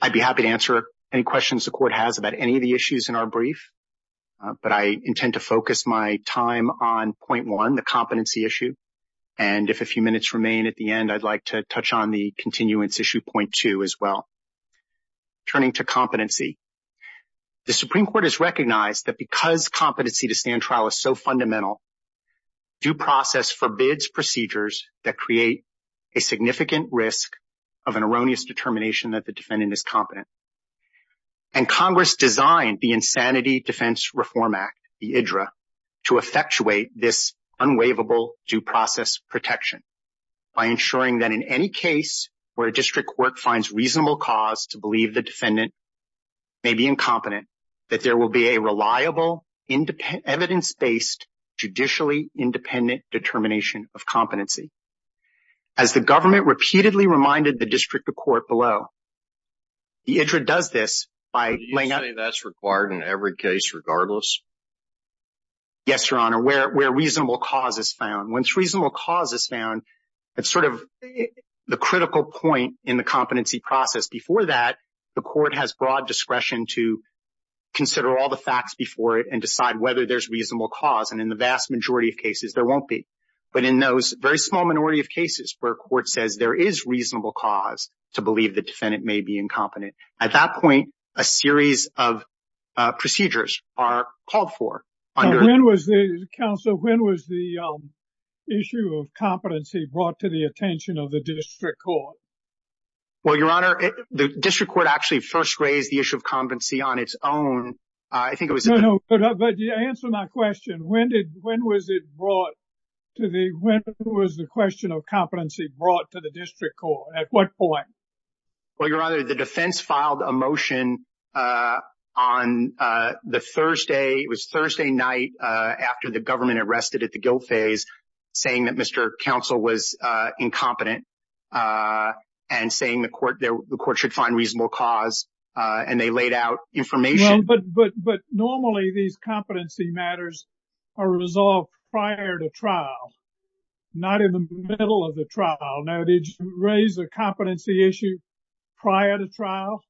I'd be happy to answer any questions the Court has about any of the issues in our brief, but I intend to focus my time on point one, the competency issue, and if a few minutes remain at the end, I'd like to touch on the continuance issue point two as well. Turning to competency, the Supreme Court has recognized that because competency to stand trial is so fundamental, due process forbids procedures that create a significant risk of an erroneous determination that the defendant is competent. And Congress designed the Insanity Defense Reform Act, the IDRA, to effectuate this unwaivable due process protection by ensuring that in any case where a district court finds reasonable cause to believe the defendant may be incompetent, that there will be a reliable, evidence-based, judicially independent determination of competency. As the government repeatedly reminded the district court below, the IDRA does this by laying out— Do you say that's required in every case regardless? Yes, Your Honor, where reasonable cause is found. Once reasonable cause is found, it's sort of the critical point in the competency process. Before that, the Court has broad discretion to consider all the facts before it and decide whether there's reasonable cause, and in the vast majority of cases, there won't be. But in those very small minority of cases where a court says there is reasonable cause to believe the defendant may be incompetent, at that point, a series of procedures are called for. When was the issue of competency brought to the attention of the district court? Well, Your Honor, the district court actually first raised the issue of competency on its own. I think it was— No, no, but answer my question. When was it brought to the—when was the question of competency brought to the district court? At what point? Well, Your Honor, the defense filed a motion on the Thursday—it was Thursday night after the government arrested at the guilt phase saying that Mr. Counsel was incompetent and saying the court should find reasonable cause, and they laid out information— But normally, these competency matters are resolved prior to trial, not in the middle of the trial. Now, did you raise the competency issue prior to trial?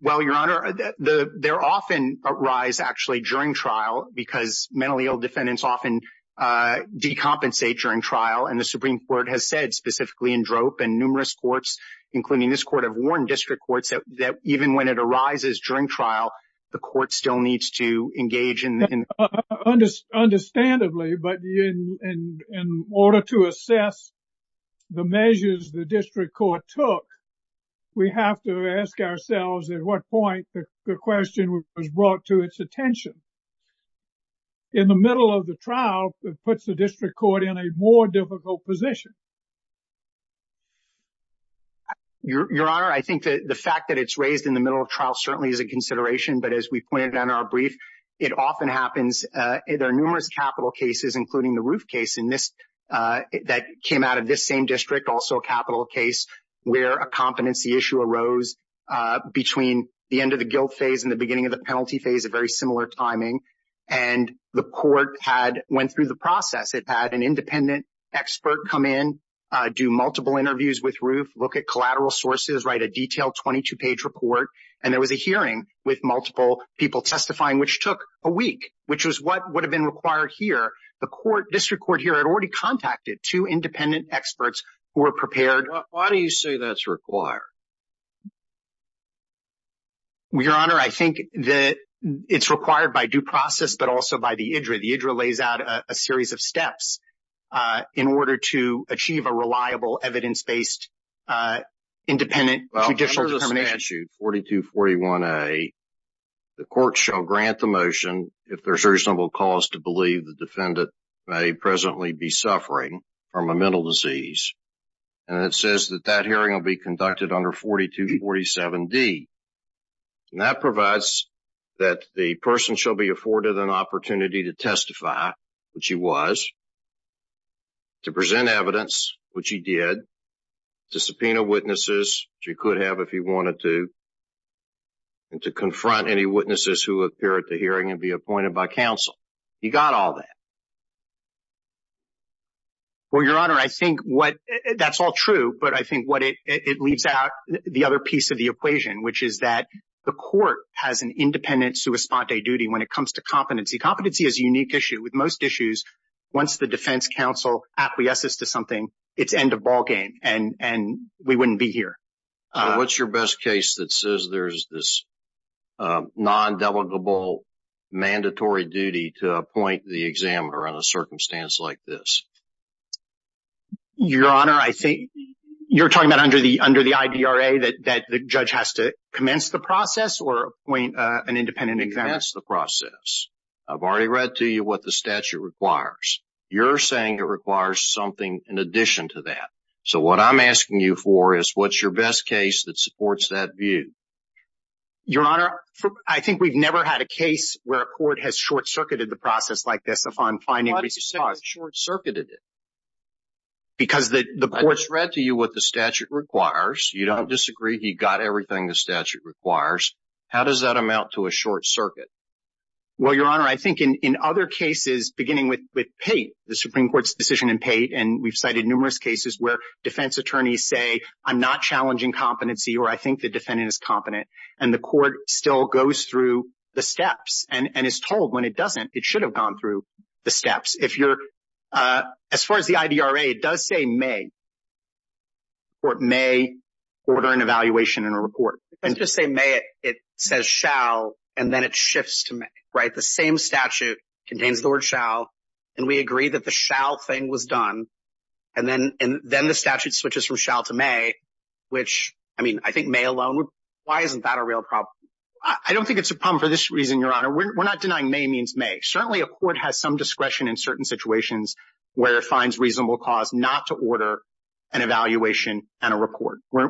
Well, Your Honor, they often arise actually during trial because mentally ill defendants often decompensate during trial, and the Supreme Court has said specifically in DROP and numerous courts, including this court, have warned district courts that even when it arises during trial, the court still needs to engage in— Your Honor, I think that the fact that it's raised in the middle of trial certainly is a consideration, but as we pointed out in our brief, it often happens—there are numerous capital cases, including the Roof case in this—that came out of this same district, also a capital case, where a competency issue arose prior to trial. Between the end of the guilt phase and the beginning of the penalty phase at very similar timing, and the court had—went through the process. It had an independent expert come in, do multiple interviews with Roof, look at collateral sources, write a detailed 22-page report, and there was a hearing with multiple people testifying, which took a week, which was what would have been required here. The court—district court here had already contacted two independent experts who were prepared— Your Honor, I think that it's required by due process, but also by the IDRA. The IDRA lays out a series of steps in order to achieve a reliable, evidence-based, independent judicial determination. In statute 4241A, the court shall grant the motion if there's reasonable cause to believe the defendant may presently be suffering from a mental disease, and it says that that hearing will be conducted under 4247D. And that provides that the person shall be afforded an opportunity to testify, which he was, to present evidence, which he did, to subpoena witnesses, which he could have if he wanted to, and to confront any witnesses who appear at the hearing and be appointed by counsel. He got all that. Well, Your Honor, I think what—that's all true, but I think what it leaves out, the other piece of the equation, which is that the court has an independent sua sponte duty when it comes to competency. Competency is a unique issue. With most issues, once the defense counsel acquiesces to something, it's end of ballgame, and we wouldn't be here. What's your best case that says there's this non-delegable, mandatory duty to appoint the examiner on a circumstance like this? Your Honor, I think you're talking about under the IDRA that the judge has to commence the process or appoint an independent examiner? He has to commence the process. I've already read to you what the statute requires. You're saying it requires something in addition to that. So what I'm asking you for is what's your best case that supports that view? Your Honor, I think we've never had a case where a court has short-circuited the process like this. Why did you say short-circuited it? Because the court's read to you what the statute requires. You don't disagree. He got everything the statute requires. How does that amount to a short circuit? Well, Your Honor, I think in other cases, beginning with Pate, the Supreme Court's decision in Pate, and we've cited numerous cases where defense attorneys say, I'm not challenging competency or I think the defendant is competent, and the court still goes through the steps and is told when it doesn't, it should have gone through the steps. As far as the IDRA, it does say may, court may order an evaluation and a report. It doesn't just say may, it says shall, and then it shifts to may. The same statute contains the word shall, and we agree that the shall thing was done, and then the statute switches from shall to may, which I think may alone, why isn't that a real problem? I don't think it's a problem for this reason, Your Honor. We're not denying may means may. Certainly, a court has some discretion in certain situations where it finds reasonable cause not to order an evaluation and a report. Well,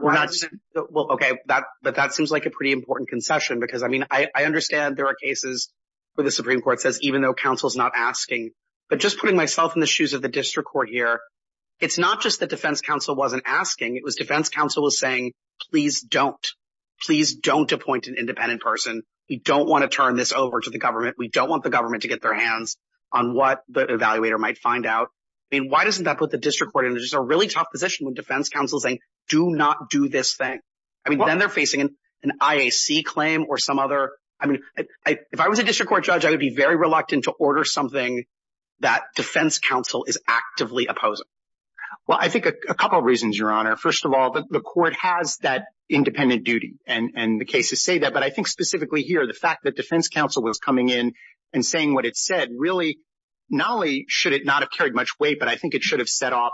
okay, but that seems like a pretty important concession because, I mean, I understand there are cases where the Supreme Court says even though counsel's not asking, but just putting myself in the shoes of the district court here, it's not just that defense counsel wasn't asking. It was defense counsel was saying, please don't. Please don't appoint an independent person. We don't want to turn this over to the government. We don't want the government to get their hands on what the evaluator might find out. I mean, why doesn't that put the district court in just a really tough position with defense counsel saying, do not do this thing? I mean, then they're facing an IAC claim or some other. I mean, if I was a district court judge, I would be very reluctant to order something that defense counsel is actively opposing. Well, I think a couple of reasons, Your Honor. First of all, the court has that independent duty and the cases say that. But I think specifically here, the fact that defense counsel was coming in and saying what it said really not only should it not have carried much weight, but I think it should have set off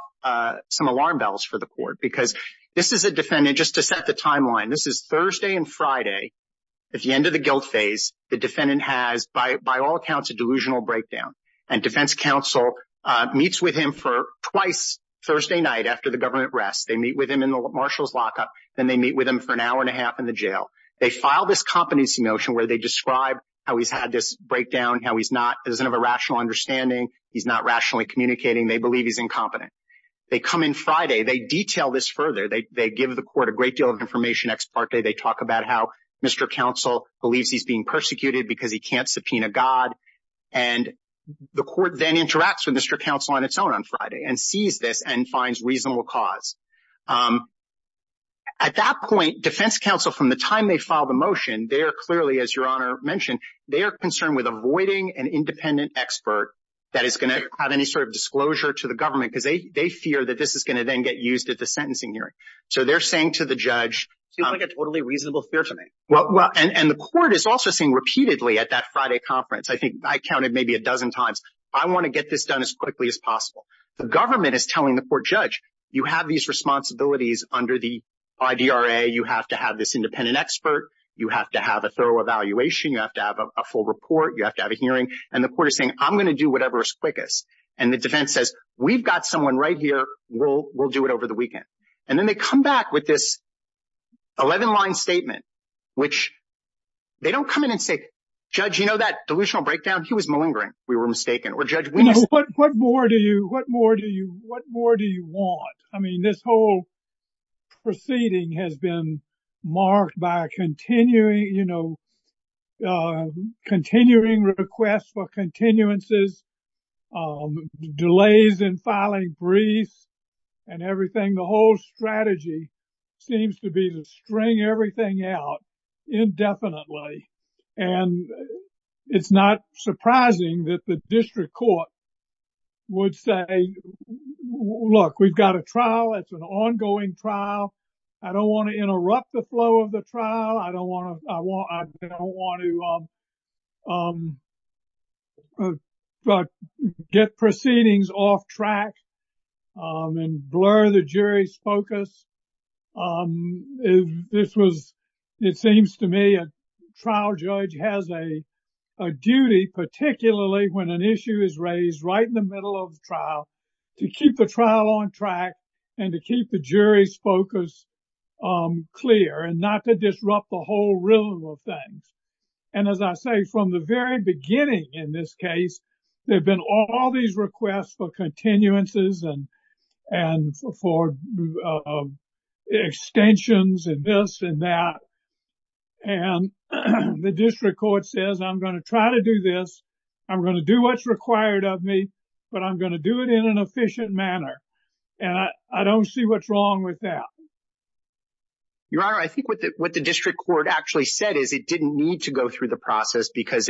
some alarm bells for the court because this is a defendant just to set the timeline. This is Thursday and Friday at the end of the guilt phase. The defendant has, by all accounts, a delusional breakdown. And defense counsel meets with him for twice Thursday night after the government rests. They meet with him in the marshal's lockup. Then they meet with him for an hour and a half in the jail. They file this competency motion where they describe how he's had this breakdown, how he's not, doesn't have a rational understanding. He's not rationally communicating. They believe he's incompetent. They come in Friday. They detail this further. They give the court a great deal of information ex parte. They talk about how Mr. Counsel believes he's being persecuted because he can't subpoena God. And the court then interacts with Mr. Counsel on its own on Friday and sees this and finds reasonable cause. At that point, defense counsel, from the time they file the motion, they are clearly, as Your Honor mentioned, they are concerned with avoiding an independent expert that is going to have any sort of disclosure to the government because they fear that this is going to then get used at the sentencing hearing. So they're saying to the judge. Seems like a totally reasonable fear to me. 11-line statement, which they don't come in and say, Judge, you know, that delusional breakdown, he was malingering. We were mistaken. Or, Judge, what more do you what more do you what more do you want? I mean, this whole proceeding has been marked by continuing, you know, continuing requests for continuances, delays in filing briefs and everything. The whole strategy seems to be to string everything out indefinitely. And it's not surprising that the district court would say, look, we've got a trial. It's an ongoing trial. I don't want to interrupt the flow of the trial. I don't want to get proceedings off track. And blur the jury's focus. This was, it seems to me, a trial judge has a duty, particularly when an issue is raised right in the middle of trial, to keep the trial on track and to keep the jury's focus clear and not to disrupt the whole rhythm of things. And as I say, from the very beginning in this case, there have been all these requests for continuances and for extensions and this and that. And the district court says, I'm going to try to do this. I'm going to do what's required of me, but I'm going to do it in an efficient manner. And I don't see what's wrong with that. Your Honor, I think what the district court actually said is it didn't need to go through the process because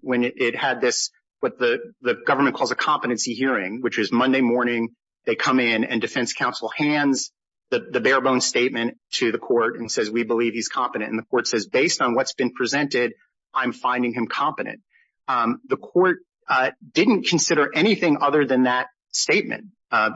when it had this, what the government calls a competency hearing, which is Monday morning, they come in and defense counsel hands the bare bones statement to the court and says, we believe he's competent. And the court says, based on what's been presented, I'm finding him competent. The court didn't consider anything other than that statement. At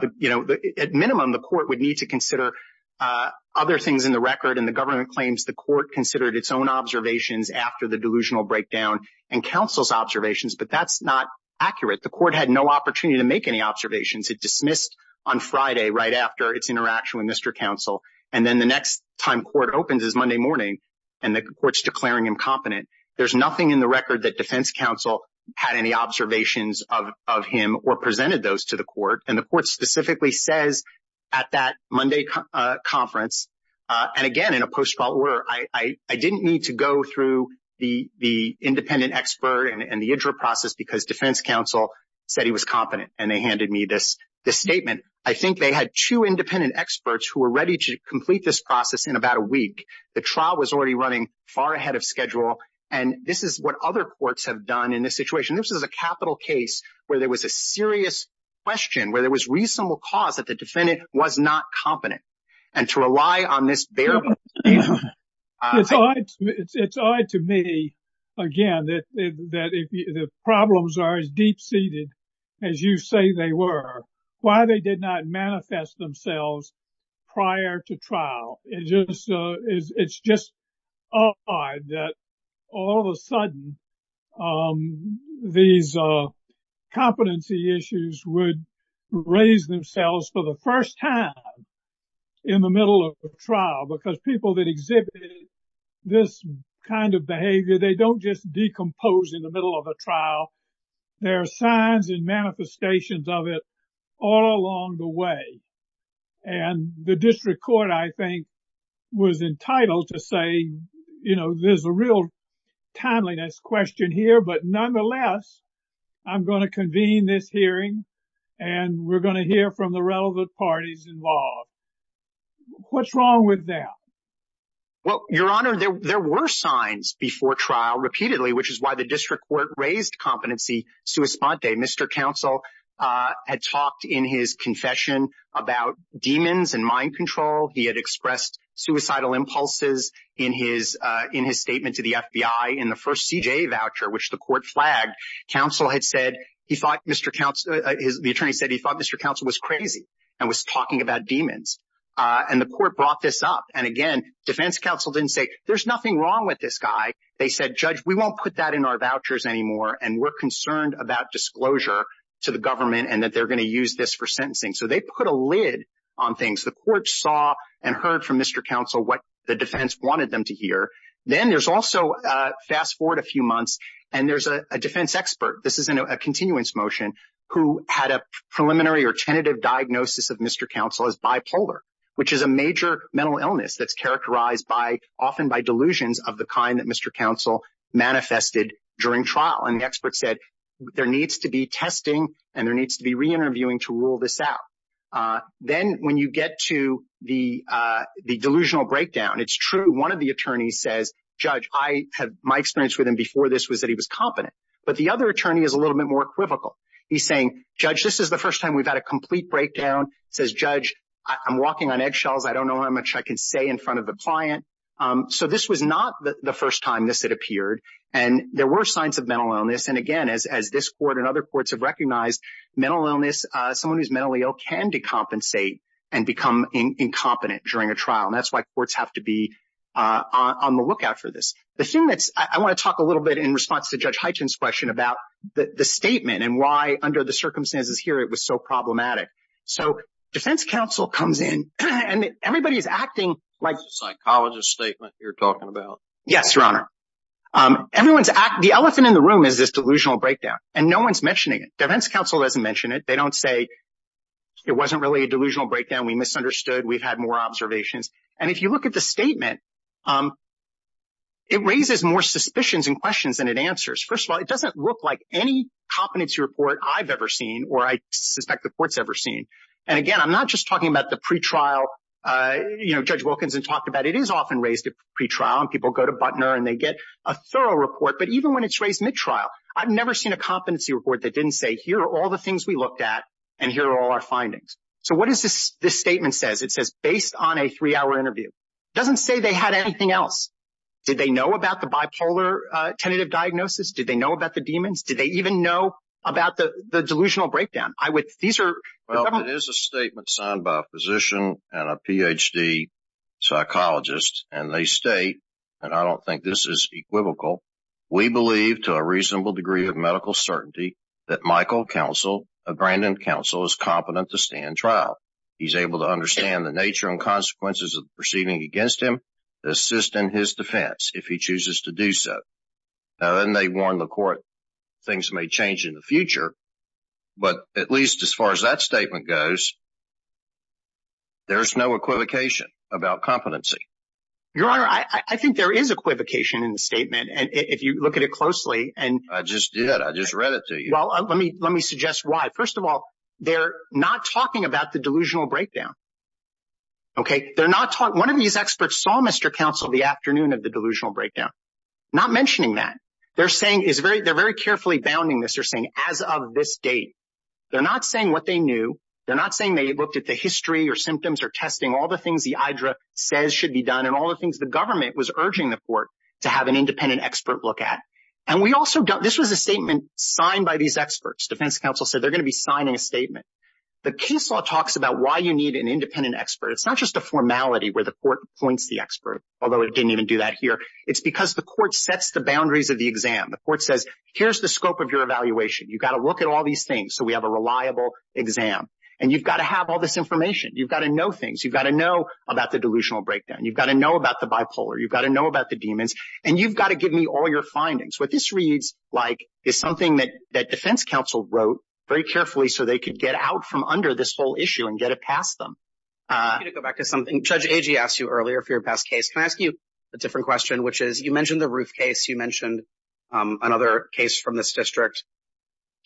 minimum, the court would need to consider other things in the record. And the government claims the court considered its own observations after the delusional breakdown and counsel's observations. But that's not accurate. The court had no opportunity to make any observations. It dismissed on Friday right after its interaction with Mr. Counsel. And then the next time court opens is Monday morning and the court's declaring him competent. There's nothing in the record that defense counsel had any observations of him or presented those to the court. And the court specifically says at that Monday conference, and again, in a post-trial order, I didn't need to go through the independent expert and the process because defense counsel said he was competent and they handed me this statement. I think they had two independent experts who were ready to complete this process in about a week. The trial was already running far ahead of schedule. And this is what other courts have done in this situation. This is a capital case where there was a serious question, where there was reasonable cause that the defendant was not competent and to rely on this bare bones statement. It's odd to me, again, that the problems are as deep seated as you say they were. Why they did not manifest themselves prior to trial. It's just odd that all of a sudden these competency issues would raise themselves for the first time in the middle of a trial. Because people that exhibit this kind of behavior, they don't just decompose in the middle of a trial. There are signs and manifestations of it all along the way. And the district court, I think, was entitled to say, you know, there's a real timeliness question here, but nonetheless, I'm going to convene this hearing and we're going to hear from the relevant parties involved. What's wrong with that? And the court brought this up. And again, defense counsel didn't say, there's nothing wrong with this guy. They said, judge, we won't put that in our vouchers anymore. And we're concerned about disclosure to the government and that they're going to use this for sentencing. So they put a lid on things. The court saw and heard from Mr. Counsel what the defense wanted them to hear. Then there's also, fast forward a few months, and there's a defense expert, this is a continuance motion, who had a preliminary or tentative diagnosis of Mr. Counsel as bipolar, which is a major mental illness that's characterized often by delusions of the kind that Mr. Counsel manifested during trial. And the expert said, there needs to be testing and there needs to be reinterviewing to rule this out. Then when you get to the delusional breakdown, it's true. One of the attorneys says, judge, my experience with him before this was that he was competent. But the other attorney is a little bit more equivocal. He's saying, judge, this is the first time we've had a complete breakdown. Says, judge, I'm walking on eggshells. I don't know how much I can say in front of the client. So this was not the first time this had appeared. And there were signs of mental illness. And again, as this court and other courts have recognized, mental illness, someone who's mentally ill can decompensate and become incompetent during a trial. And that's why courts have to be on the lookout for this. I want to talk a little bit in response to Judge Hyten's question about the statement and why under the circumstances here it was so problematic. So defense counsel comes in and everybody is acting like... It's a psychologist statement you're talking about. Yes, your honor. The elephant in the room is this delusional breakdown. And no one's mentioning it. Defense counsel doesn't mention it. They don't say it wasn't really a delusional breakdown. We misunderstood. We've had more observations. And if you look at the statement, it raises more suspicions and questions than it answers. First of all, it doesn't look like any competency report I've ever seen or I suspect the court's ever seen. And again, I'm not just talking about the pretrial. Judge Wilkinson talked about it. It is often raised at pretrial and people go to Butner and they get a thorough report. But even when it's raised mid-trial, I've never seen a competency report that didn't say here are all the things we looked at and here are all our findings. So what is this statement says? It says based on a three-hour interview. It doesn't say they had anything else. Did they know about the bipolar tentative diagnosis? Did they know about the demons? Did they even know about the delusional breakdown? Well, it is a statement signed by a physician and a Ph.D. psychologist. And they state, and I don't think this is equivocal, we believe to a reasonable degree of medical certainty that Michael Counsel, a Grandin counsel, is competent to stand trial. He's able to understand the nature and consequences of proceeding against him to assist in his defense if he chooses to do so. Now, then they warn the court things may change in the future. But at least as far as that statement goes, there's no equivocation about competency. Your Honor, I think there is equivocation in the statement. And if you look at it closely and I just did. I just read it to you. Well, let me let me suggest why. First of all, they're not talking about the delusional breakdown. OK, they're not talking. One of these experts saw Mr. Counsel the afternoon of the delusional breakdown, not mentioning that they're saying is very they're very carefully bounding this. They're saying as of this date, they're not saying what they knew. They're not saying they looked at the history or symptoms or testing all the things the IDRA says should be done and all the things the government was urging the court to have an independent expert look at. And we also got this was a statement signed by these experts. Defense counsel said they're going to be signing a statement. The case law talks about why you need an independent expert. It's not just a formality where the court points the expert, although it didn't even do that here. It's because the court sets the boundaries of the exam. The court says, here's the scope of your evaluation. You've got to look at all these things. So we have a reliable exam and you've got to have all this information. You've got to know things. You've got to know about the delusional breakdown. You've got to know about the bipolar. You've got to know about the demons. And you've got to give me all your findings. What this reads like is something that that defense counsel wrote very carefully so they could get out from under this whole issue and get it past them. To go back to something, Judge Agee asked you earlier for your best case. Can I ask you a different question? Which is you mentioned the roof case. You mentioned another case from this district.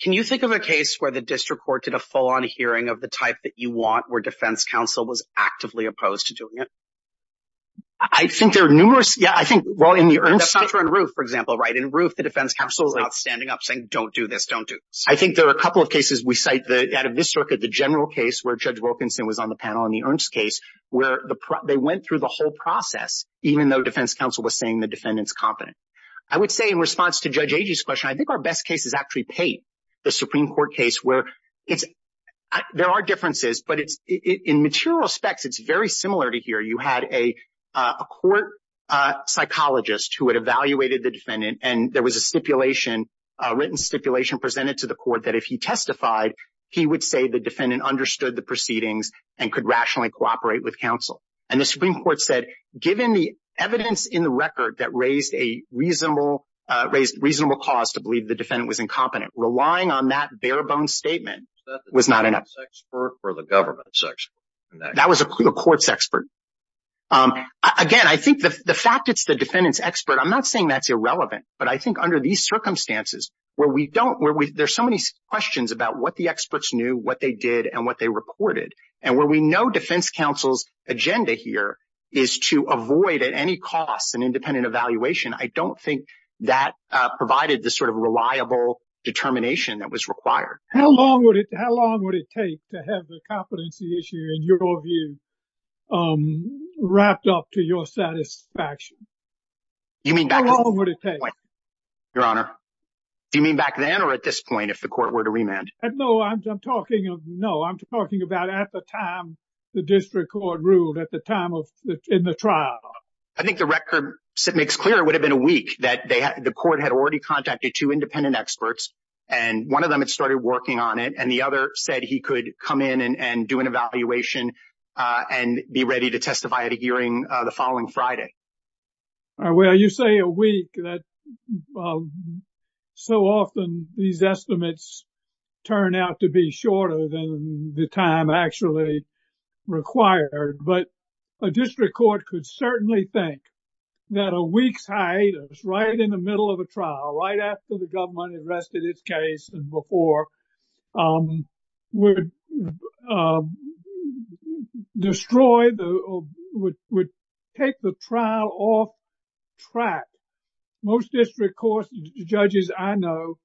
Can you think of a case where the district court did a full-on hearing of the type that you want, where defense counsel was actively opposed to doing it? I think there are numerous. Yeah, I think, well, in the Ernst case. That's not true on the roof, for example, right? In the roof, the defense counsel was standing up saying, don't do this, don't do this. I think there are a couple of cases we cite out of this circuit, the general case where Judge Wilkinson was on the panel and the Ernst case, where they went through the whole process, even though defense counsel was saying the defendant's competent. I would say in response to Judge Agee's question, I think our best case is actually Pate, the Supreme Court case, where there are differences, but in material respects, it's very similar to here. You had a court psychologist who had evaluated the defendant, and there was a written stipulation presented to the court that if he testified, he would say the defendant understood the proceedings and could rationally cooperate with counsel. And the Supreme Court said, given the evidence in the record that raised a reasonable cause to believe the defendant was incompetent, relying on that bare-bones statement was not enough. Was that the defense expert or the government's expert? That was the court's expert. Again, I think the fact it's the defendant's expert, I'm not saying that's irrelevant. But I think under these circumstances where we don't, where there's so many questions about what the experts knew, what they did, and what they reported, and where we know defense counsel's agenda here is to avoid at any cost an independent evaluation, I don't think that provided the sort of reliable determination that was required. How long would it take to have the competency issue, in your view, wrapped up to your satisfaction? How long would it take? Your Honor, do you mean back then or at this point if the court were to remand? No, I'm talking about at the time the district court ruled, at the time in the trial. I think the record makes clear it would have been a week that the court had already contacted two independent experts, and one of them had started working on it, and the other said he could come in and do an evaluation and be ready to testify at a hearing the following Friday. Well, you say a week, that so often these estimates turn out to be shorter than the time actually required. But a district court could certainly think that a week's hiatus right in the middle of a trial, right after the government arrested its case and before, would destroy, would take the trial off track. Most district court judges I know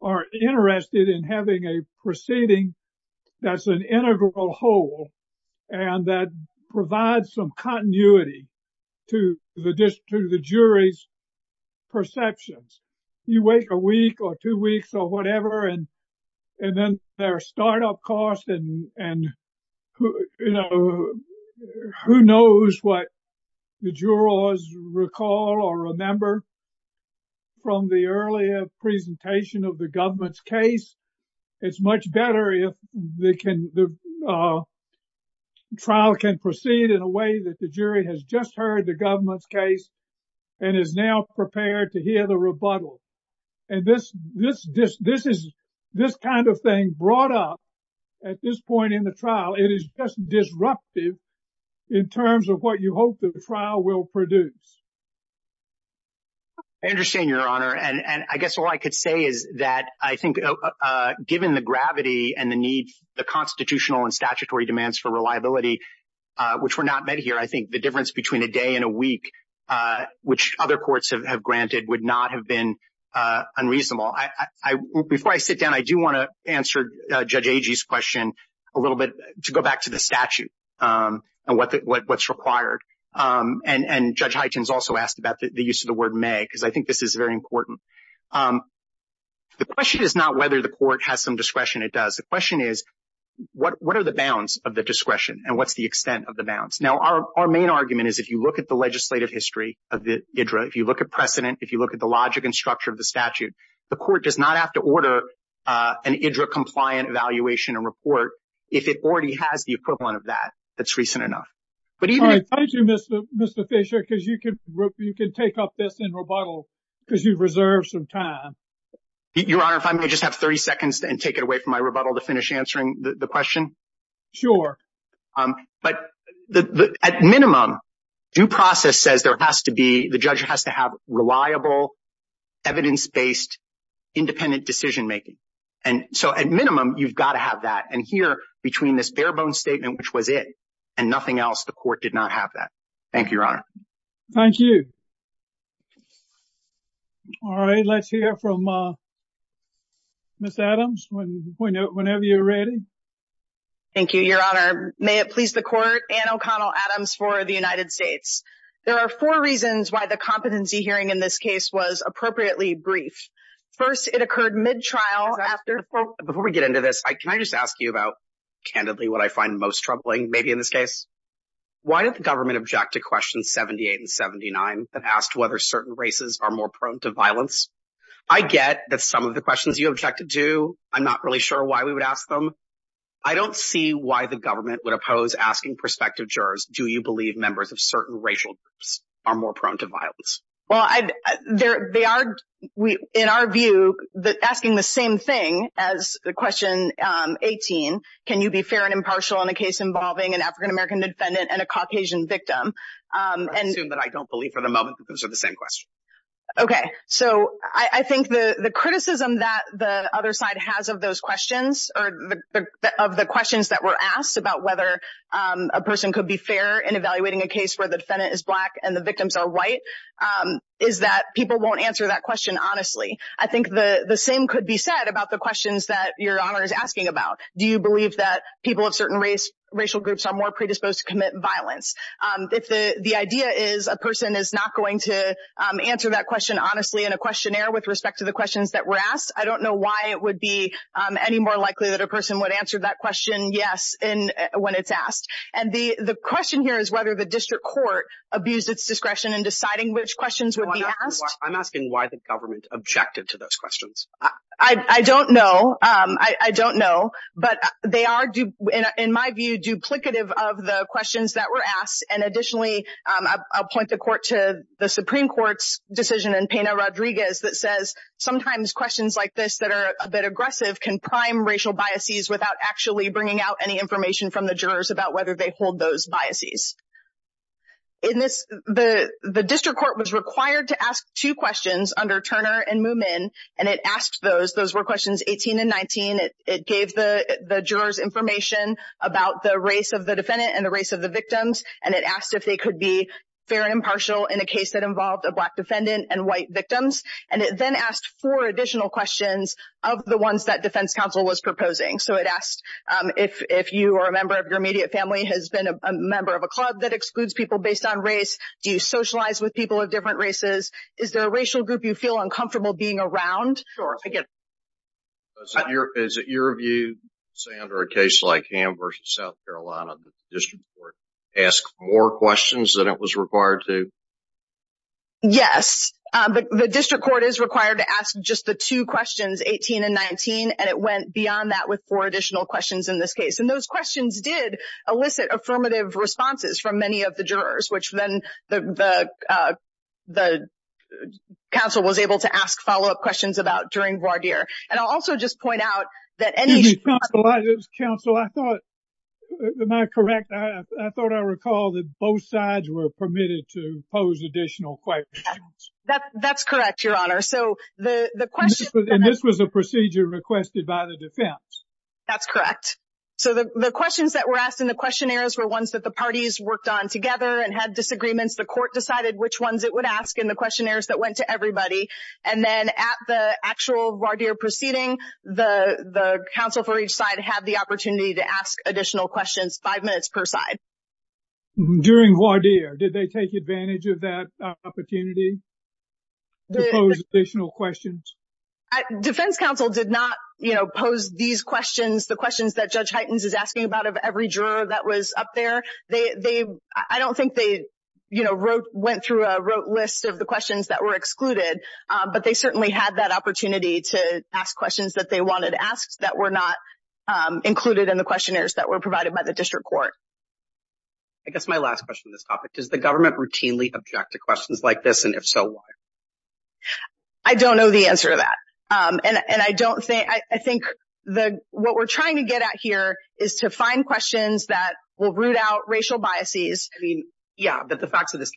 are interested in having a proceeding that's an integral whole and that provides some continuity to the jury's perceptions. You wait a week or two weeks or whatever, and then there are startup costs, and who knows what the jurors recall or remember from the earlier presentation of the government's case. It's much better if the trial can proceed in a way that the jury has just heard the government's case and is now prepared to hear the rebuttal. And this kind of thing brought up at this point in the trial, it is just disruptive in terms of what you hope the trial will produce. I understand, Your Honor, and I guess all I could say is that I think given the gravity and the need, the constitutional and statutory demands for reliability, which were not met here, I think the difference between a day and a week, which other courts have granted would not have been unreasonable. Before I sit down, I do want to answer Judge Agee's question a little bit to go back to the statute and what's required. And Judge Hyten's also asked about the use of the word may, because I think this is very important. The question is not whether the court has some discretion, it does. The question is, what are the bounds of the discretion and what's the extent of the bounds? Now, our main argument is if you look at the legislative history of the IDRA, if you look at precedent, if you look at the logic and structure of the statute, the court does not have to order an IDRA compliant evaluation and report if it already has the equivalent of that that's recent enough. Thank you, Mr. Fisher, because you can take up this in rebuttal because you've reserved some time. Your Honor, if I may just have 30 seconds and take it away from my rebuttal to finish answering the question. Sure. But at minimum, due process says there has to be the judge has to have reliable evidence based independent decision making. And so at minimum, you've got to have that. And here between this bare bones statement, which was it and nothing else, the court did not have that. Thank you, Your Honor. Thank you. All right. Let's hear from Miss Adams whenever you're ready. Thank you, Your Honor. May it please the court, Anne O'Connell Adams for the United States. There are four reasons why the competency hearing in this case was appropriately brief. First, it occurred mid-trial after. Before we get into this, can I just ask you about candidly what I find most troubling maybe in this case? Why did the government object to questions 78 and 79 that asked whether certain races are more prone to violence? I get that some of the questions you objected to, I'm not really sure why we would ask them. I don't see why the government would oppose asking prospective jurors, do you believe members of certain racial groups are more prone to violence? Well, they are, in our view, asking the same thing as the question 18. Can you be fair and impartial in a case involving an African-American defendant and a Caucasian victim? I assume that I don't believe for the moment that those are the same questions. Okay, so I think the criticism that the other side has of those questions, of the questions that were asked about whether a person could be fair in evaluating a case where the defendant is black and the victims are white, is that people won't answer that question honestly. I think the same could be said about the questions that Your Honor is asking about. Do you believe that people of certain racial groups are more predisposed to commit violence? If the idea is a person is not going to answer that question honestly in a questionnaire with respect to the questions that were asked, I don't know why it would be any more likely that a person would answer that question yes when it's asked. And the question here is whether the district court abused its discretion in deciding which questions would be asked. I'm asking why the government objected to those questions. I don't know. I don't know. But they are, in my view, duplicative of the questions that were asked. And additionally, I'll point the court to the Supreme Court's decision in Pena-Rodriguez that says, sometimes questions like this that are a bit aggressive can prime racial biases without actually bringing out any information from the jurors about whether they hold those biases. The district court was required to ask two questions under Turner and Moomin, and it asked those. Those were questions 18 and 19. It gave the jurors information about the race of the defendant and the race of the victims, and it asked if they could be fair and impartial in a case that involved a black defendant and white victims. And it then asked four additional questions of the ones that defense counsel was proposing. So it asked if you or a member of your immediate family has been a member of a club that excludes people based on race. Do you socialize with people of different races? Is there a racial group you feel uncomfortable being around? Sure. I get it. Is it your view, say, under a case like Ham v. South Carolina, the district court asks more questions than it was required to? Yes. The district court is required to ask just the two questions, 18 and 19, and it went beyond that with four additional questions in this case. And those questions did elicit affirmative responses from many of the jurors, which then the counsel was able to ask follow-up questions about during voir dire. And I'll also just point out that any— Counsel, I thought—am I correct? I thought I recalled that both sides were permitted to pose additional questions. That's correct, Your Honor. So the question— And this was a procedure requested by the defense. That's correct. So the questions that were asked in the questionnaires were ones that the parties worked on together and had disagreements. The court decided which ones it would ask in the questionnaires that went to everybody. And then at the actual voir dire proceeding, the counsel for each side had the opportunity to ask additional questions five minutes per side. During voir dire, did they take advantage of that opportunity to pose additional questions? Defense counsel did not, you know, pose these questions, the questions that Judge Heitens is asking about of every juror that was up there. I don't think they, you know, went through a list of the questions that were excluded, but they certainly had that opportunity to ask questions that they wanted asked that were not included in the questionnaires that were provided by the district court. I guess my last question on this topic, does the government routinely object to questions like this, and if so, why? I don't know the answer to that. And I don't think, I think what we're trying to get at here is to find questions that will root out racial biases. I mean, yeah, but the facts of this,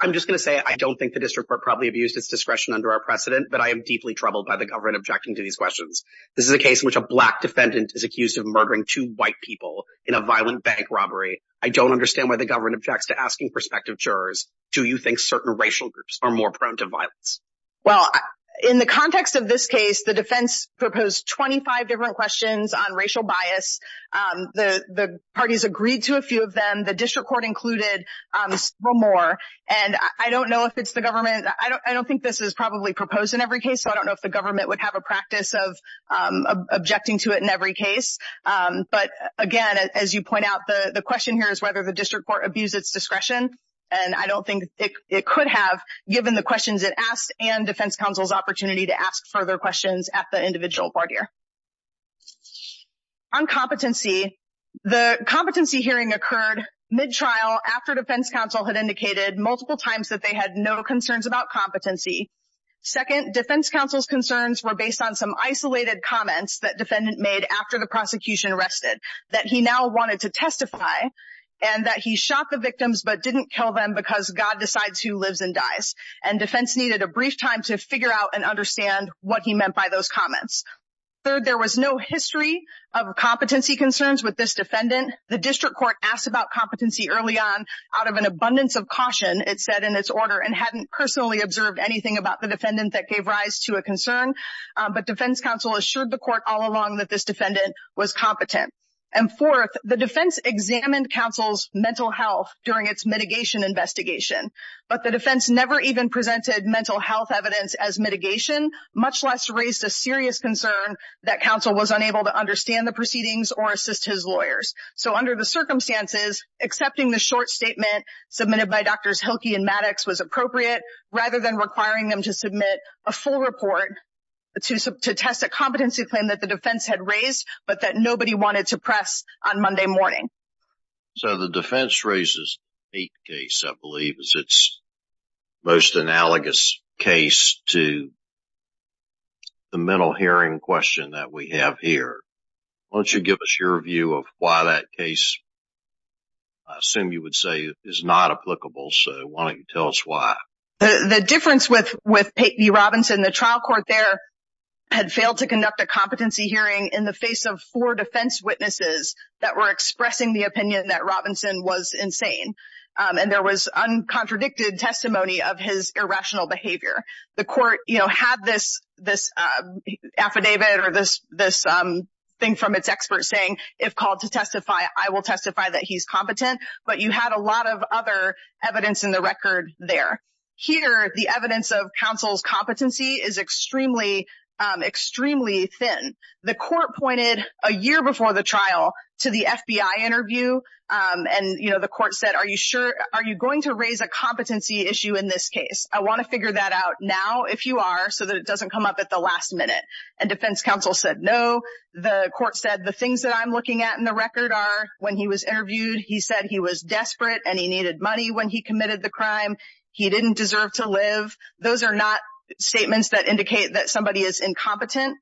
I'm just going to say I don't think the district court probably abused its discretion under our precedent, but I am deeply troubled by the government objecting to these questions. This is a case in which a black defendant is accused of murdering two white people in a violent bank robbery. I don't understand why the government objects to asking prospective jurors, do you think certain racial groups are more prone to violence? Well, in the context of this case, the defense proposed 25 different questions on racial bias. The parties agreed to a few of them. The district court included several more. And I don't know if it's the government, I don't think this is probably proposed in every case, so I don't know if the government would have a practice of objecting to it in every case. But, again, as you point out, the question here is whether the district court abused its discretion, and I don't think it could have given the questions it asked and defense counsel's opportunity to ask further questions at the individual court here. On competency, the competency hearing occurred mid-trial after defense counsel had indicated multiple times that they had no concerns about competency. Second, defense counsel's concerns were based on some isolated comments that defendant made after the prosecution arrested, that he now wanted to testify, and that he shot the victims but didn't kill them because God decides who lives and dies. And defense needed a brief time to figure out and understand what he meant by those comments. Third, there was no history of competency concerns with this defendant. The district court asked about competency early on out of an abundance of caution, it said in its order, and hadn't personally observed anything about the defendant that gave rise to a concern. But defense counsel assured the court all along that this defendant was competent. And fourth, the defense examined counsel's mental health during its mitigation investigation. But the defense never even presented mental health evidence as mitigation, much less raised a serious concern that counsel was unable to understand the proceedings or assist his lawyers. So under the circumstances, accepting the short statement submitted by Drs. Hilke and Maddox was appropriate, rather than requiring them to submit a full report to test a competency claim that the defense had raised, but that nobody wanted to press on Monday morning. So the defense raises the eighth case, I believe, as its most analogous case to the mental hearing question that we have here. Why don't you give us your view of why that case, I assume you would say, is not applicable. So why don't you tell us why? The difference with Pate v. Robinson, the trial court there had failed to conduct a competency hearing in the face of four defense witnesses that were expressing the opinion that Robinson was insane. And there was uncontradicted testimony of his irrational behavior. The court, you know, had this affidavit or this thing from its experts saying, if called to testify, I will testify that he's competent. But you had a lot of other evidence in the record there. Here, the evidence of counsel's competency is extremely, extremely thin. The court pointed a year before the trial to the FBI interview. And, you know, the court said, are you sure, are you going to raise a competency issue in this case? I want to figure that out now, if you are, so that it doesn't come up at the last minute. And defense counsel said, no. The court said, the things that I'm looking at in the record are, when he was interviewed, he said he was desperate and he needed money when he committed the crime. He didn't deserve to live. Those are not statements that indicate that somebody is incompetent.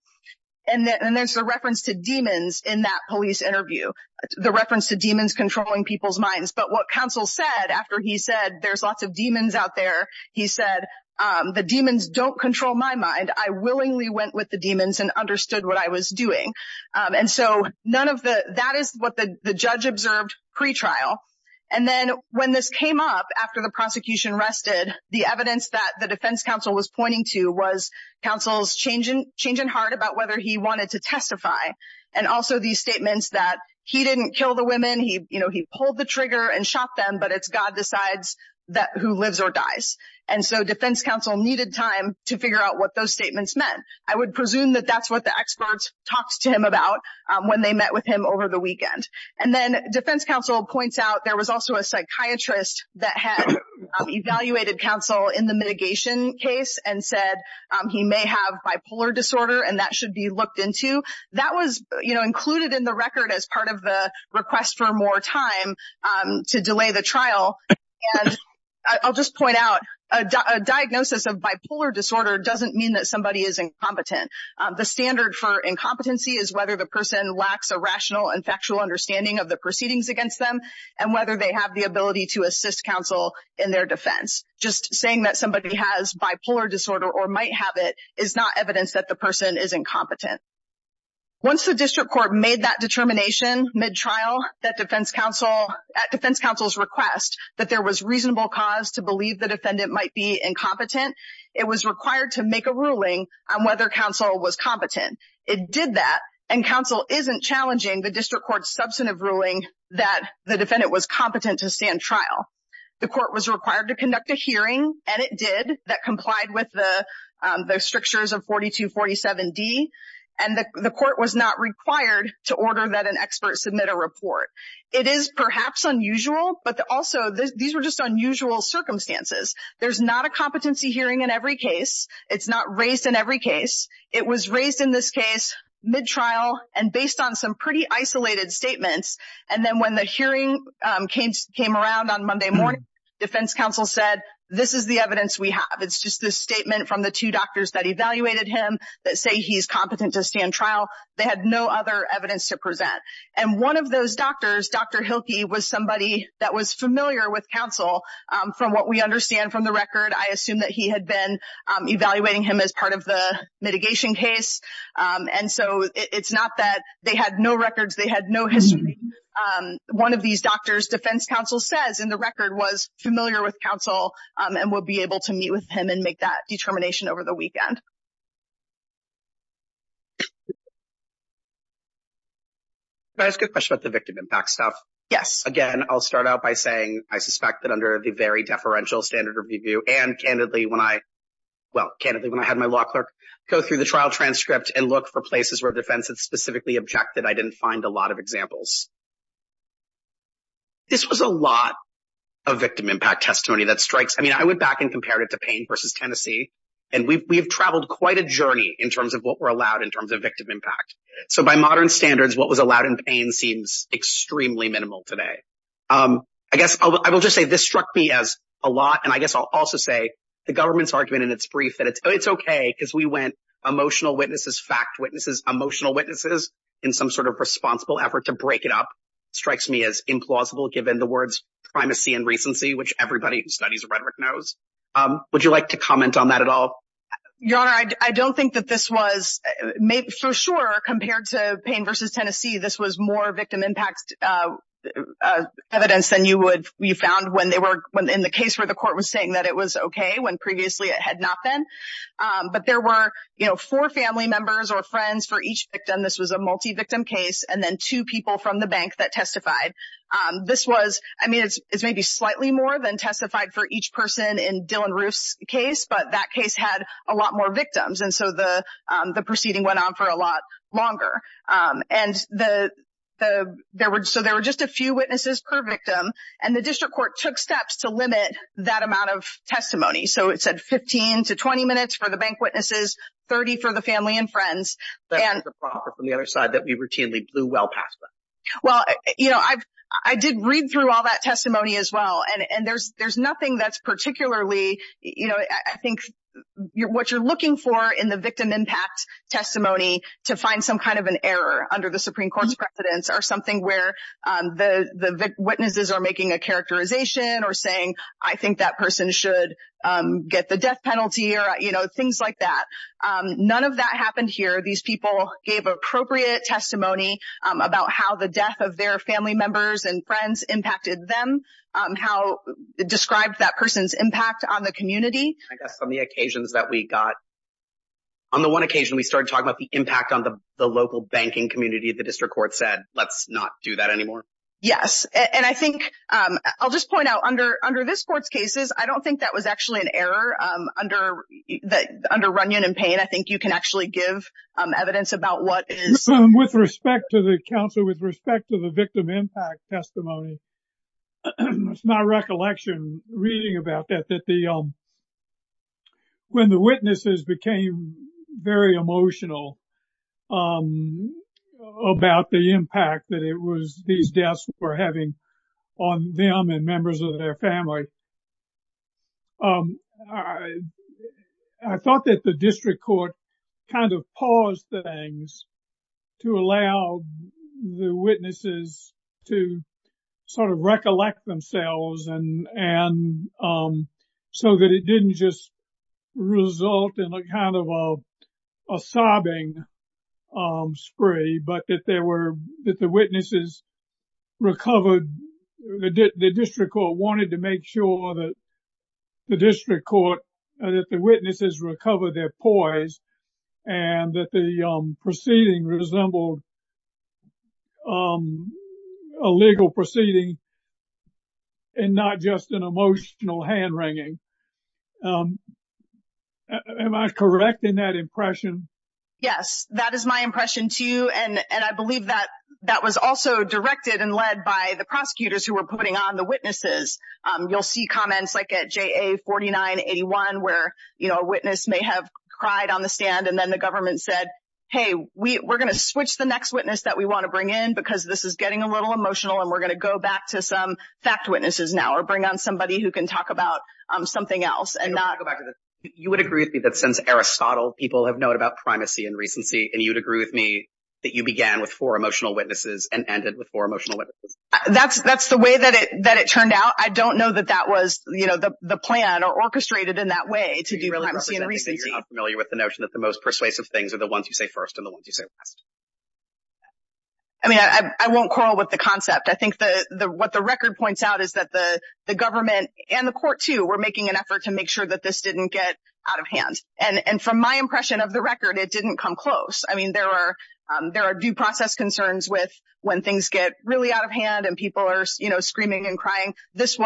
And there's a reference to demons in that police interview, the reference to demons controlling people's minds. But what counsel said after he said, there's lots of demons out there, he said, the demons don't control my mind. I willingly went with the demons and understood what I was doing. And so none of the, that is what the judge observed pretrial. And then when this came up after the prosecution rested, the evidence that the defense counsel was pointing to was counsel's change in heart about whether he wanted to testify. And also these statements that he didn't kill the women, he pulled the trigger and shot them, but it's God decides who lives or dies. And so defense counsel needed time to figure out what those statements meant. I would presume that that's what the experts talked to him about when they met with him over the weekend. And then defense counsel points out there was also a psychiatrist that had evaluated counsel in the mitigation case and said he may have bipolar disorder and that should be looked into. That was included in the record as part of the request for more time to delay the trial. I'll just point out a diagnosis of bipolar disorder doesn't mean that somebody is incompetent. The standard for incompetency is whether the person lacks a rational and factual understanding of the proceedings against them and whether they have the ability to assist counsel in their defense. Just saying that somebody has bipolar disorder or might have it is not evidence that the person is incompetent. Once the district court made that determination mid-trial at defense counsel's request that there was reasonable cause to believe the defendant might be incompetent, it was required to make a ruling on whether counsel was competent. It did that and counsel isn't challenging the district court's substantive ruling that the defendant was competent to stand trial. The court was required to conduct a hearing and it did that complied with the strictures of 4247D. And the court was not required to order that an expert submit a report. It is perhaps unusual, but also these were just unusual circumstances. There's not a competency hearing in every case. It's not raised in every case. It was raised in this case mid-trial and based on some pretty isolated statements. And then when the hearing came around on Monday morning, defense counsel said, this is the evidence we have. It's just this statement from the two doctors that evaluated him that say he's competent to stand trial. They had no other evidence to present. And one of those doctors, Dr. Hilke, was somebody that was familiar with counsel from what we understand from the record. I assume that he had been evaluating him as part of the mitigation case. And so it's not that they had no records. They had no history. One of these doctors, defense counsel says in the record, was familiar with counsel and would be able to meet with him and make that determination over the weekend. Can I ask a question about the victim impact stuff? Yes. Again, I'll start out by saying I suspect that under the very deferential standard of review and candidly when I had my law clerk go through the trial transcript and look for places where defense had specifically objected, I didn't find a lot of examples. This was a lot of victim impact testimony that strikes. I mean, I went back and compared it to Payne versus Tennessee, and we've traveled quite a journey in terms of what we're allowed in terms of victim impact. So by modern standards, what was allowed in Payne seems extremely minimal today. I guess I will just say this struck me as a lot, and I guess I'll also say the government's argument in its brief that it's okay because we went emotional witnesses, fact witnesses, emotional witnesses in some sort of responsible effort to break it up, strikes me as implausible given the words primacy and recency, which everybody who studies rhetoric knows. Would you like to comment on that at all? Your Honor, I don't think that this was for sure compared to Payne versus Tennessee. This was more victim impact evidence than you found in the case where the court was saying that it was okay when previously it had not been. But there were four family members or friends for each victim. This was a multi-victim case, and then two people from the bank that testified. This was, I mean, it's maybe slightly more than testified for each person in Dylann Roof's case, but that case had a lot more victims, and so the proceeding went on for a lot longer. And so there were just a few witnesses per victim, and the district court took steps to limit that amount of testimony. So it said 15 to 20 minutes for the bank witnesses, 30 for the family and friends. That was the property on the other side that we routinely blew well past them. Well, you know, I did read through all that testimony as well, and there's nothing that's particularly, you know, I think what you're looking for in the victim impact testimony to find some kind of an error under the Supreme Court's precedence or something where the witnesses are making a characterization or saying, I think that person should get the death penalty or, you know, things like that. None of that happened here. These people gave appropriate testimony about how the death of their family members and friends impacted them, described that person's impact on the community. I guess on the occasions that we got, on the one occasion we started talking about the impact on the local banking community, the district court said, let's not do that anymore. Yes, and I think I'll just point out under this court's cases, I don't think that was actually an error. Under Runyon and Payne, I think you can actually give evidence about what is. With respect to the counsel, with respect to the victim impact testimony, it's my recollection reading about that, that the, when the witnesses became very emotional about the impact that it was, these deaths were having on them and members of their family. I thought that the district court kind of paused things to allow the witnesses to sort of recollect themselves and so that it didn't just result in a kind of a sobbing spree, but that there were, that the witnesses recovered, the district court wanted to make sure that the district court, that the witnesses recovered their poise and that the proceeding resembled a legal proceeding and not just an emotional hand-wringing. Am I correct in that impression? Yes, that is my impression too. And I believe that that was also directed and led by the prosecutors who were putting on the witnesses. You'll see comments like at JA 4981 where a witness may have cried on the stand and then the government said, hey, we're going to switch the next witness that we want to bring in because this is getting a little emotional and we're going to go back to some fact witnesses now or bring on somebody who can talk about something else. You would agree with me that since Aristotle, people have known about primacy and recency and you'd agree with me that you began with four emotional witnesses and ended with four emotional witnesses? That's the way that it turned out. I don't know that that was the plan or orchestrated in that way to do primacy and recency. So you're not familiar with the notion that the most persuasive things are the ones you say first and the ones you say last? I mean, I won't quarrel with the concept. I think what the record points out is that the government and the court too were making an effort to make sure that this didn't get out of hand. And from my impression of the record, it didn't come close. I mean, there are due process concerns with when things get really out of hand and people are screaming and crying. This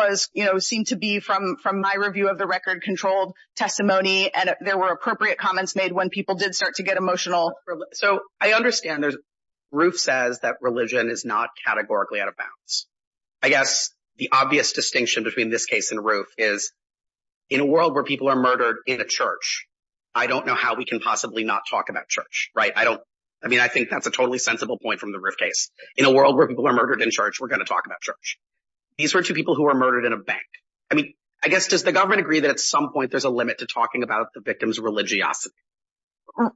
seemed to be, from my review of the record, controlled testimony and there were appropriate comments made when people did start to get emotional. So I understand. Roof says that religion is not categorically out of bounds. I guess the obvious distinction between this case and Roof is in a world where people are murdered in a church, I don't know how we can possibly not talk about church, right? I mean, I think that's a totally sensible point from the Roof case. In a world where people are murdered in church, we're going to talk about church. These were two people who were murdered in a bank. I mean, I guess does the government agree that at some point there's a limit to talking about the victim's religiosity?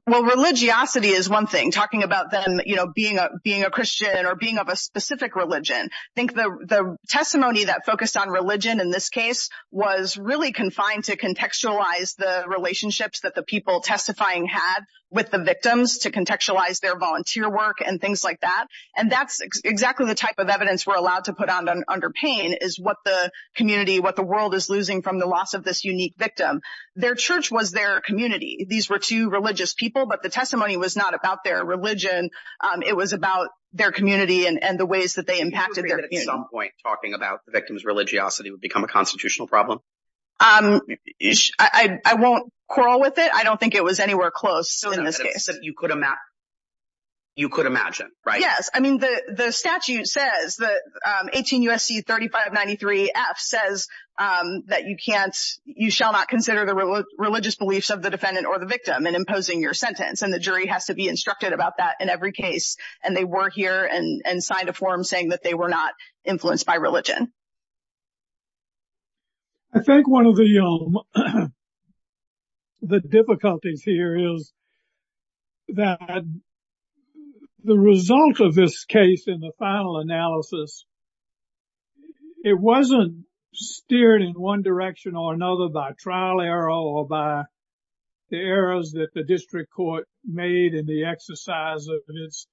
Well, religiosity is one thing. Talking about them being a Christian or being of a specific religion. I think the testimony that focused on religion in this case was really confined to contextualize the relationships that the people testifying had with the victims to contextualize their volunteer work and things like that. And that's exactly the type of evidence we're allowed to put under pain is what the community, what the world is losing from the loss of this unique victim. Their church was their community. These were two religious people, but the testimony was not about their religion. It was about their community and the ways that they impacted their community. Do you agree that at some point talking about the victim's religiosity would become a constitutional problem? I won't quarrel with it. I don't think it was anywhere close in this case. You could imagine, right? Yes. I mean, the statute says that 18 U.S.C. 3593 F says that you can't, you shall not consider the religious beliefs of the defendant or the victim in imposing your sentence. And the jury has to be instructed about that in every case. And they were here and signed a form saying that they were not influenced by religion. I think one of the difficulties here is that the result of this case in the final analysis, it wasn't steered in one direction or another by trial error or by the errors that the district court made in the exercise of its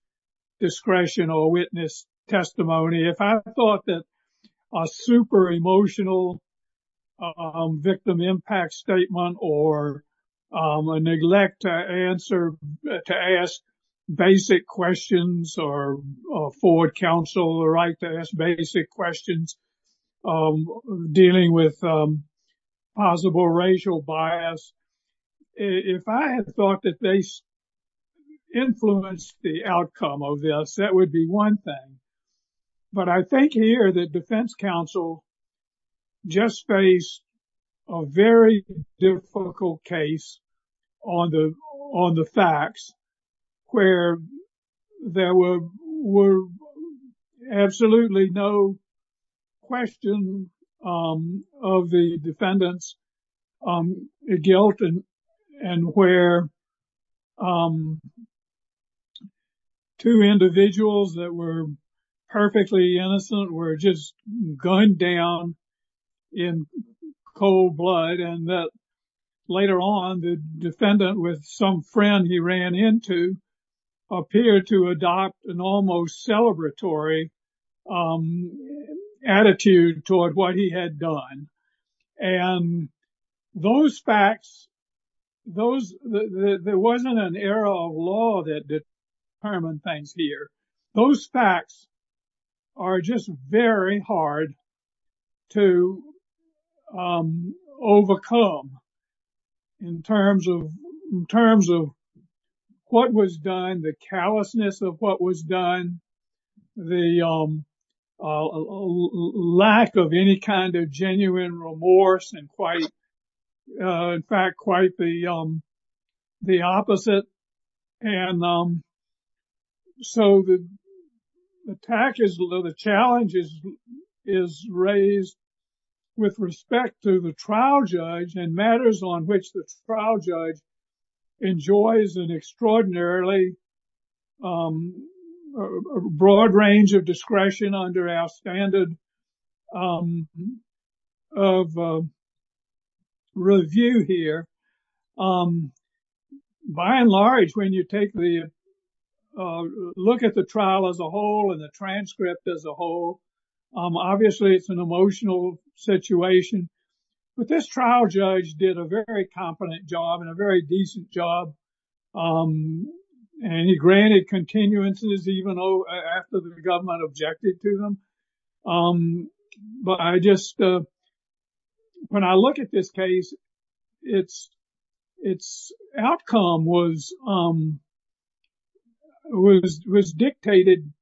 discretion or witness testimony. If I thought that a super emotional victim impact statement or a neglect to answer, to ask basic questions or afford counsel the right to ask basic questions dealing with possible racial bias. If I had thought that they influenced the outcome of this, that would be one thing. But I think here that defense counsel just faced a very difficult case on the facts, where there were absolutely no question of the defendant's guilt, and where two individuals that were perfectly innocent were just gunned down in cold blood. And later on, the defendant with some friend he ran into, appeared to adopt an almost celebratory attitude toward what he had done. And those facts, there wasn't an era of law that determined things here. Those facts are just very hard to overcome in terms of what was done, the callousness of what was done, the lack of any kind of genuine remorse, and in fact, quite the opposite. And so the challenge is raised with respect to the trial judge and matters on which the trial judge enjoys an extraordinarily broad range of discretion under our standard of review here. By and large, when you look at the trial as a whole and the transcript as a whole, obviously, it's an emotional situation. But this trial judge did a very competent job and a very decent job. And he granted continuances even after the government objected to them. But I just, when I look at this case, its outcome was dictated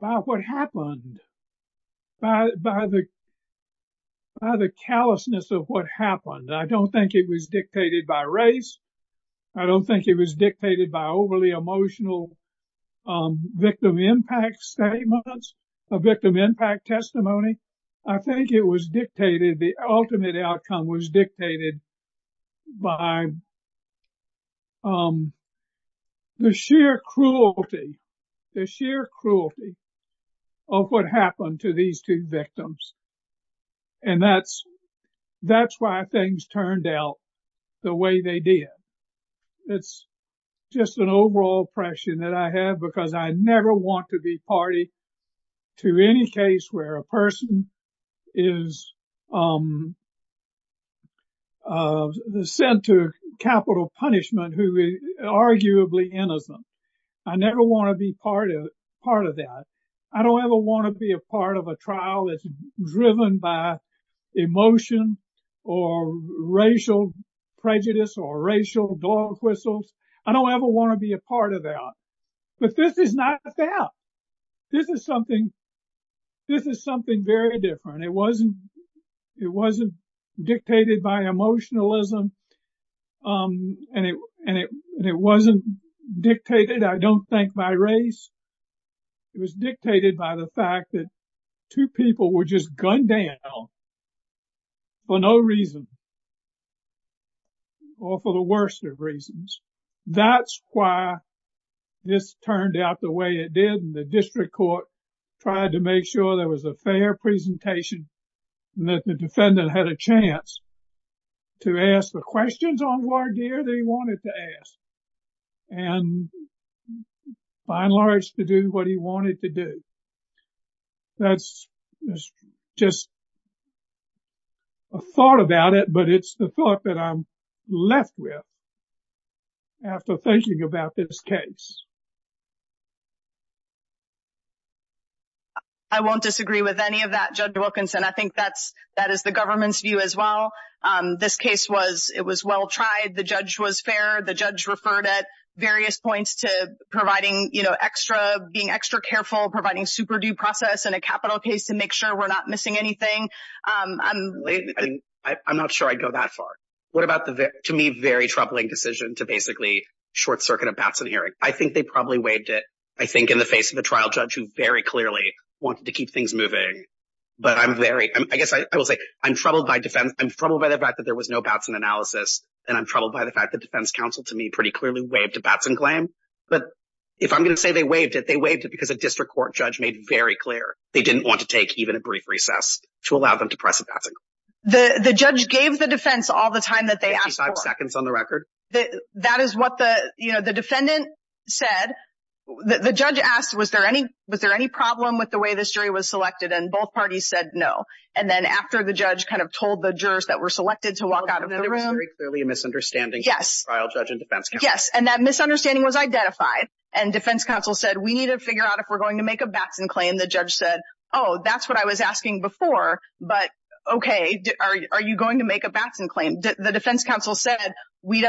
by what happened, by the callousness of what happened. I don't think it was dictated by race. I don't think it was dictated by overly emotional victim impact statements, victim impact testimony. I think it was dictated, the ultimate outcome was dictated by the sheer cruelty, the sheer cruelty of what happened to these two victims. And that's why things turned out the way they did. It's just an overall oppression that I have because I never want to be party to any case where a person is sent to capital punishment who is arguably innocent. I never want to be part of that. I don't ever want to be a part of a trial that's driven by emotion or racial prejudice or racial dog whistles. I don't ever want to be a part of that. But this is not a fact. This is something very different. It wasn't dictated by emotionalism and it wasn't dictated, I don't think, by race. It was dictated by the fact that two people were just gunned down for no reason or for the worst of reasons. That's why this turned out the way it did and the district court tried to make sure there was a fair presentation and that the defendant had a chance to ask and, by and large, to do what he wanted to do. That's just a thought about it, but it's the thought that I'm left with after thinking about this case. I won't disagree with any of that, Judge Wilkinson. I think that is the government's view as well. This case was well tried. The judge was fair. The judge referred at various points to being extra careful, providing super-due process and a capital case to make sure we're not missing anything. I'm not sure I'd go that far. What about the, to me, very troubling decision to basically short-circuit a Batson hearing? I think they probably waived it, I think, in the face of a trial judge who very clearly wanted to keep things moving. But I guess I will say I'm troubled by the fact that there was no Batson analysis, and I'm troubled by the fact that defense counsel, to me, pretty clearly waived a Batson claim. But if I'm going to say they waived it, they waived it because a district court judge made very clear they didn't want to take even a brief recess to allow them to press a Batson claim. The judge gave the defense all the time that they asked for. Fifty-five seconds on the record. That is what the defendant said. The judge asked, was there any problem with the way this jury was selected, and both parties said no. And then after the judge kind of told the jurors that were selected to walk out of the room. The defendant was very clearly a misunderstanding from the trial judge and defense counsel. Yes, and that misunderstanding was identified. And defense counsel said, we need to figure out if we're going to make a Batson claim. The judge said, oh, that's what I was asking before, but okay, are you going to make a Batson claim? The defense counsel said,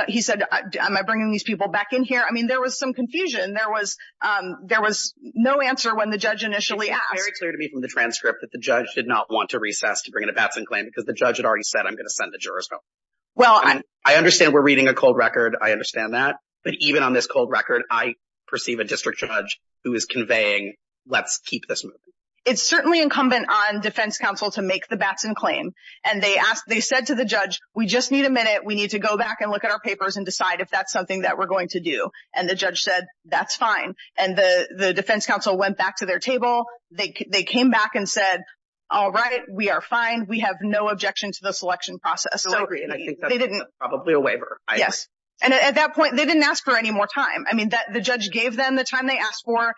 he said, am I bringing these people back in here? I mean, there was some confusion. There was no answer when the judge initially asked. It was very clear to me from the transcript that the judge did not want to recess to bring in a Batson claim because the judge had already said, I'm going to send the jurors home. I understand we're reading a cold record. I understand that. But even on this cold record, I perceive a district judge who is conveying, let's keep this moving. It's certainly incumbent on defense counsel to make the Batson claim. And they said to the judge, we just need a minute. We need to go back and look at our papers and decide if that's something that we're going to do. And the judge said, that's fine. And the defense counsel went back to their table. They came back and said, all right, we are fine. We have no objection to the selection process. I agree. And I think that's probably a waiver. Yes. And at that point, they didn't ask for any more time. I mean, the judge gave them the time they asked for.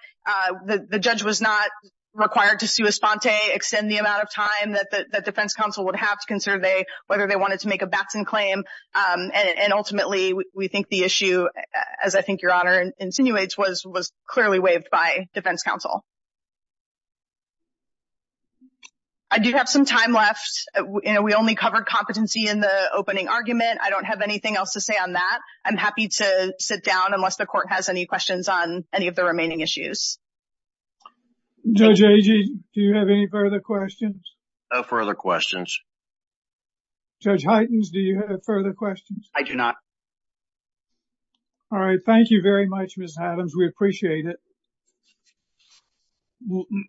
The judge was not required to sui sponte, extend the amount of time that the defense counsel would have to consider whether they wanted to make a Batson claim. And ultimately, we think the issue, as I think Your Honor insinuates, was clearly waived by defense counsel. I do have some time left. We only covered competency in the opening argument. I don't have anything else to say on that. I'm happy to sit down unless the court has any questions on any of the remaining issues. Judge Agee, do you have any further questions? No further questions. Judge Heitens, do you have further questions? I do not. All right. Thank you very much, Ms. Adams. We appreciate it.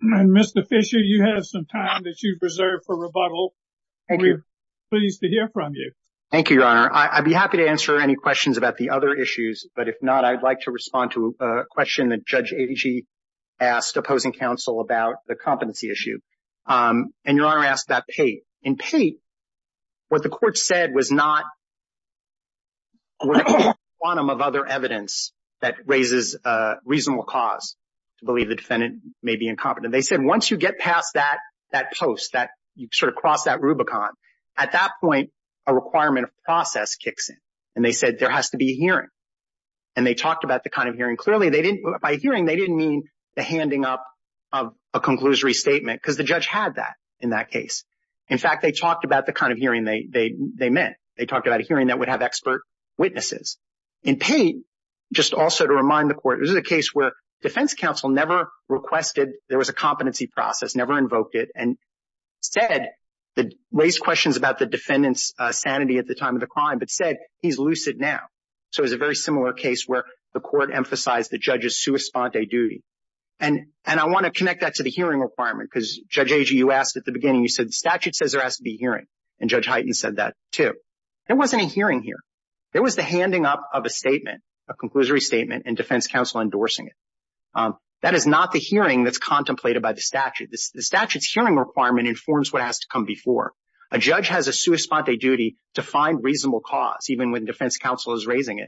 Mr. Fisher, you have some time that you've reserved for rebuttal. Thank you. We're pleased to hear from you. Thank you, Your Honor. I'd be happy to answer any questions about the other issues, but if not, I'd like to respond to a question that Judge Agee asked opposing counsel about the competency issue. And Your Honor asked about Pate. In Pate, what the court said was not a quantum of other evidence that the defendant may be incompetent. They said once you get past that post, that you sort of cross that Rubicon, at that point a requirement of process kicks in. And they said there has to be a hearing. And they talked about the kind of hearing. Clearly, by hearing, they didn't mean the handing up of a conclusory statement because the judge had that in that case. In fact, they talked about the kind of hearing they meant. In Pate, just also to remind the court, this is a case where defense counsel never requested, there was a competency process, never invoked it and said, raised questions about the defendant's sanity at the time of the crime, but said he's lucid now. So it was a very similar case where the court emphasized the judge's sua sponte duty. And I want to connect that to the hearing requirement because, Judge Agee, you asked at the beginning, you said the statute says there has to be a hearing. And Judge Hyten said that too. There wasn't a hearing here. There was the handing up of a statement, a conclusory statement, and defense counsel endorsing it. That is not the hearing that's contemplated by the statute. The statute's hearing requirement informs what has to come before. A judge has a sua sponte duty to find reasonable cause, even when defense counsel isn't raising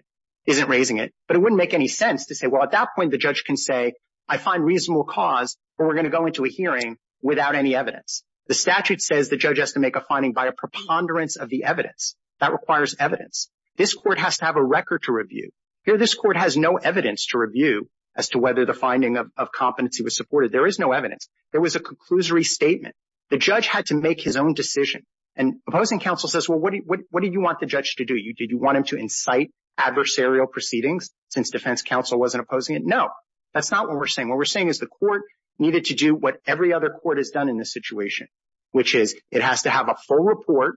it. But it wouldn't make any sense to say, well, at that point the judge can say, I find reasonable cause, or we're going to go into a hearing without any evidence. The statute says the judge has to make a finding by a preponderance of the evidence. That requires evidence. This court has to have a record to review. Here this court has no evidence to review as to whether the finding of competency was supported. There is no evidence. There was a conclusory statement. The judge had to make his own decision. And opposing counsel says, well, what do you want the judge to do? Did you want him to incite adversarial proceedings since defense counsel wasn't opposing it? No. That's not what we're saying. What we're saying is the court needed to do what every other court has done in this situation, which is it has to have a full report.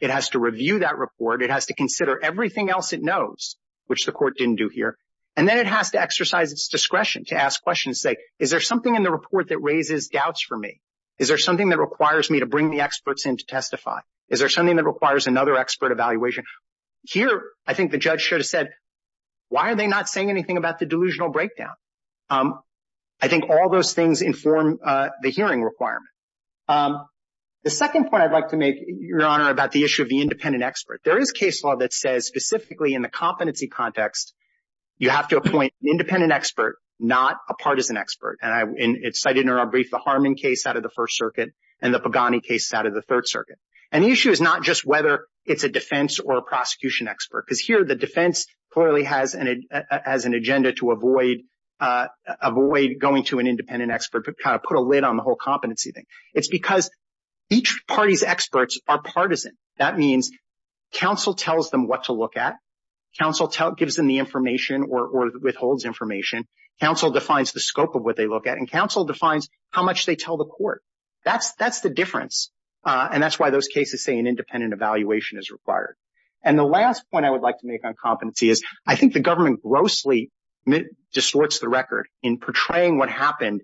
It has to review that report. It has to consider everything else it knows, which the court didn't do here. And then it has to exercise its discretion to ask questions, say, is there something in the report that raises doubts for me? Is there something that requires me to bring the experts in to testify? Is there something that requires another expert evaluation? Here I think the judge should have said, why are they not saying anything about the delusional breakdown? I think all those things inform the hearing requirement. The second point I'd like to make, Your Honor, about the issue of the independent expert, there is case law that says specifically in the competency context, you have to appoint an independent expert, not a partisan expert. And it's cited in our brief, the Harmon case out of the First Circuit and the Pagani case out of the Third Circuit. And the issue is not just whether it's a defense or a prosecution expert, because here the defense clearly has an agenda to avoid going to an independent expert, but kind of put a lid on the whole competency thing. It's because each party's experts are partisan. That means counsel tells them what to look at. Counsel gives them the information or withholds information. Counsel defines the scope of what they look at. And counsel defines how much they tell the court. That's the difference. And that's why those cases say an independent evaluation is required. And the last point I would like to make on competency is, I think the government grossly distorts the record in portraying what happened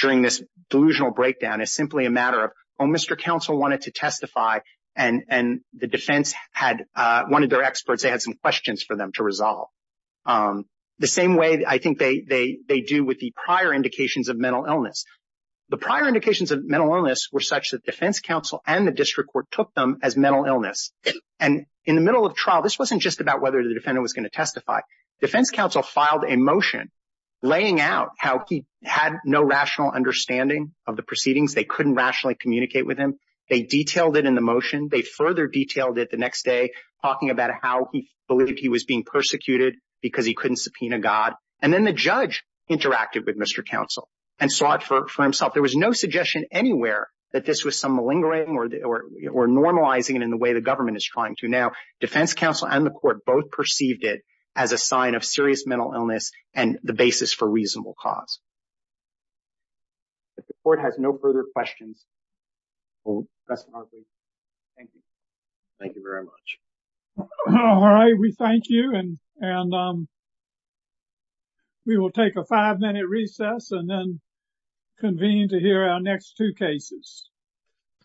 during this delusional breakdown as simply a matter of, oh, Mr. Counsel wanted to testify, and the defense had one of their experts, they had some questions for them to resolve. The same way I think they do with the prior indications of mental illness. The prior indications of mental illness were such that defense counsel and the district court took them as mental illness. And in the middle of trial, this wasn't just about whether the defendant was going to testify. Defense counsel filed a motion laying out how he had no rational understanding of the proceedings. They couldn't rationally communicate with him. They detailed it in the motion. They further detailed it the next day, talking about how he believed he was being persecuted because he couldn't subpoena God. And then the judge interacted with Mr. Counsel and saw it for himself. There was no suggestion anywhere that this was some malingering or normalizing it in the way the government is trying to now. Defense counsel and the court both perceived it as a sign of serious mental illness and the basis for reasonable cause. If the court has no further questions. Thank you. Thank you very much. All right. We thank you and we will take a five minute recess and then convene to hear our next two cases.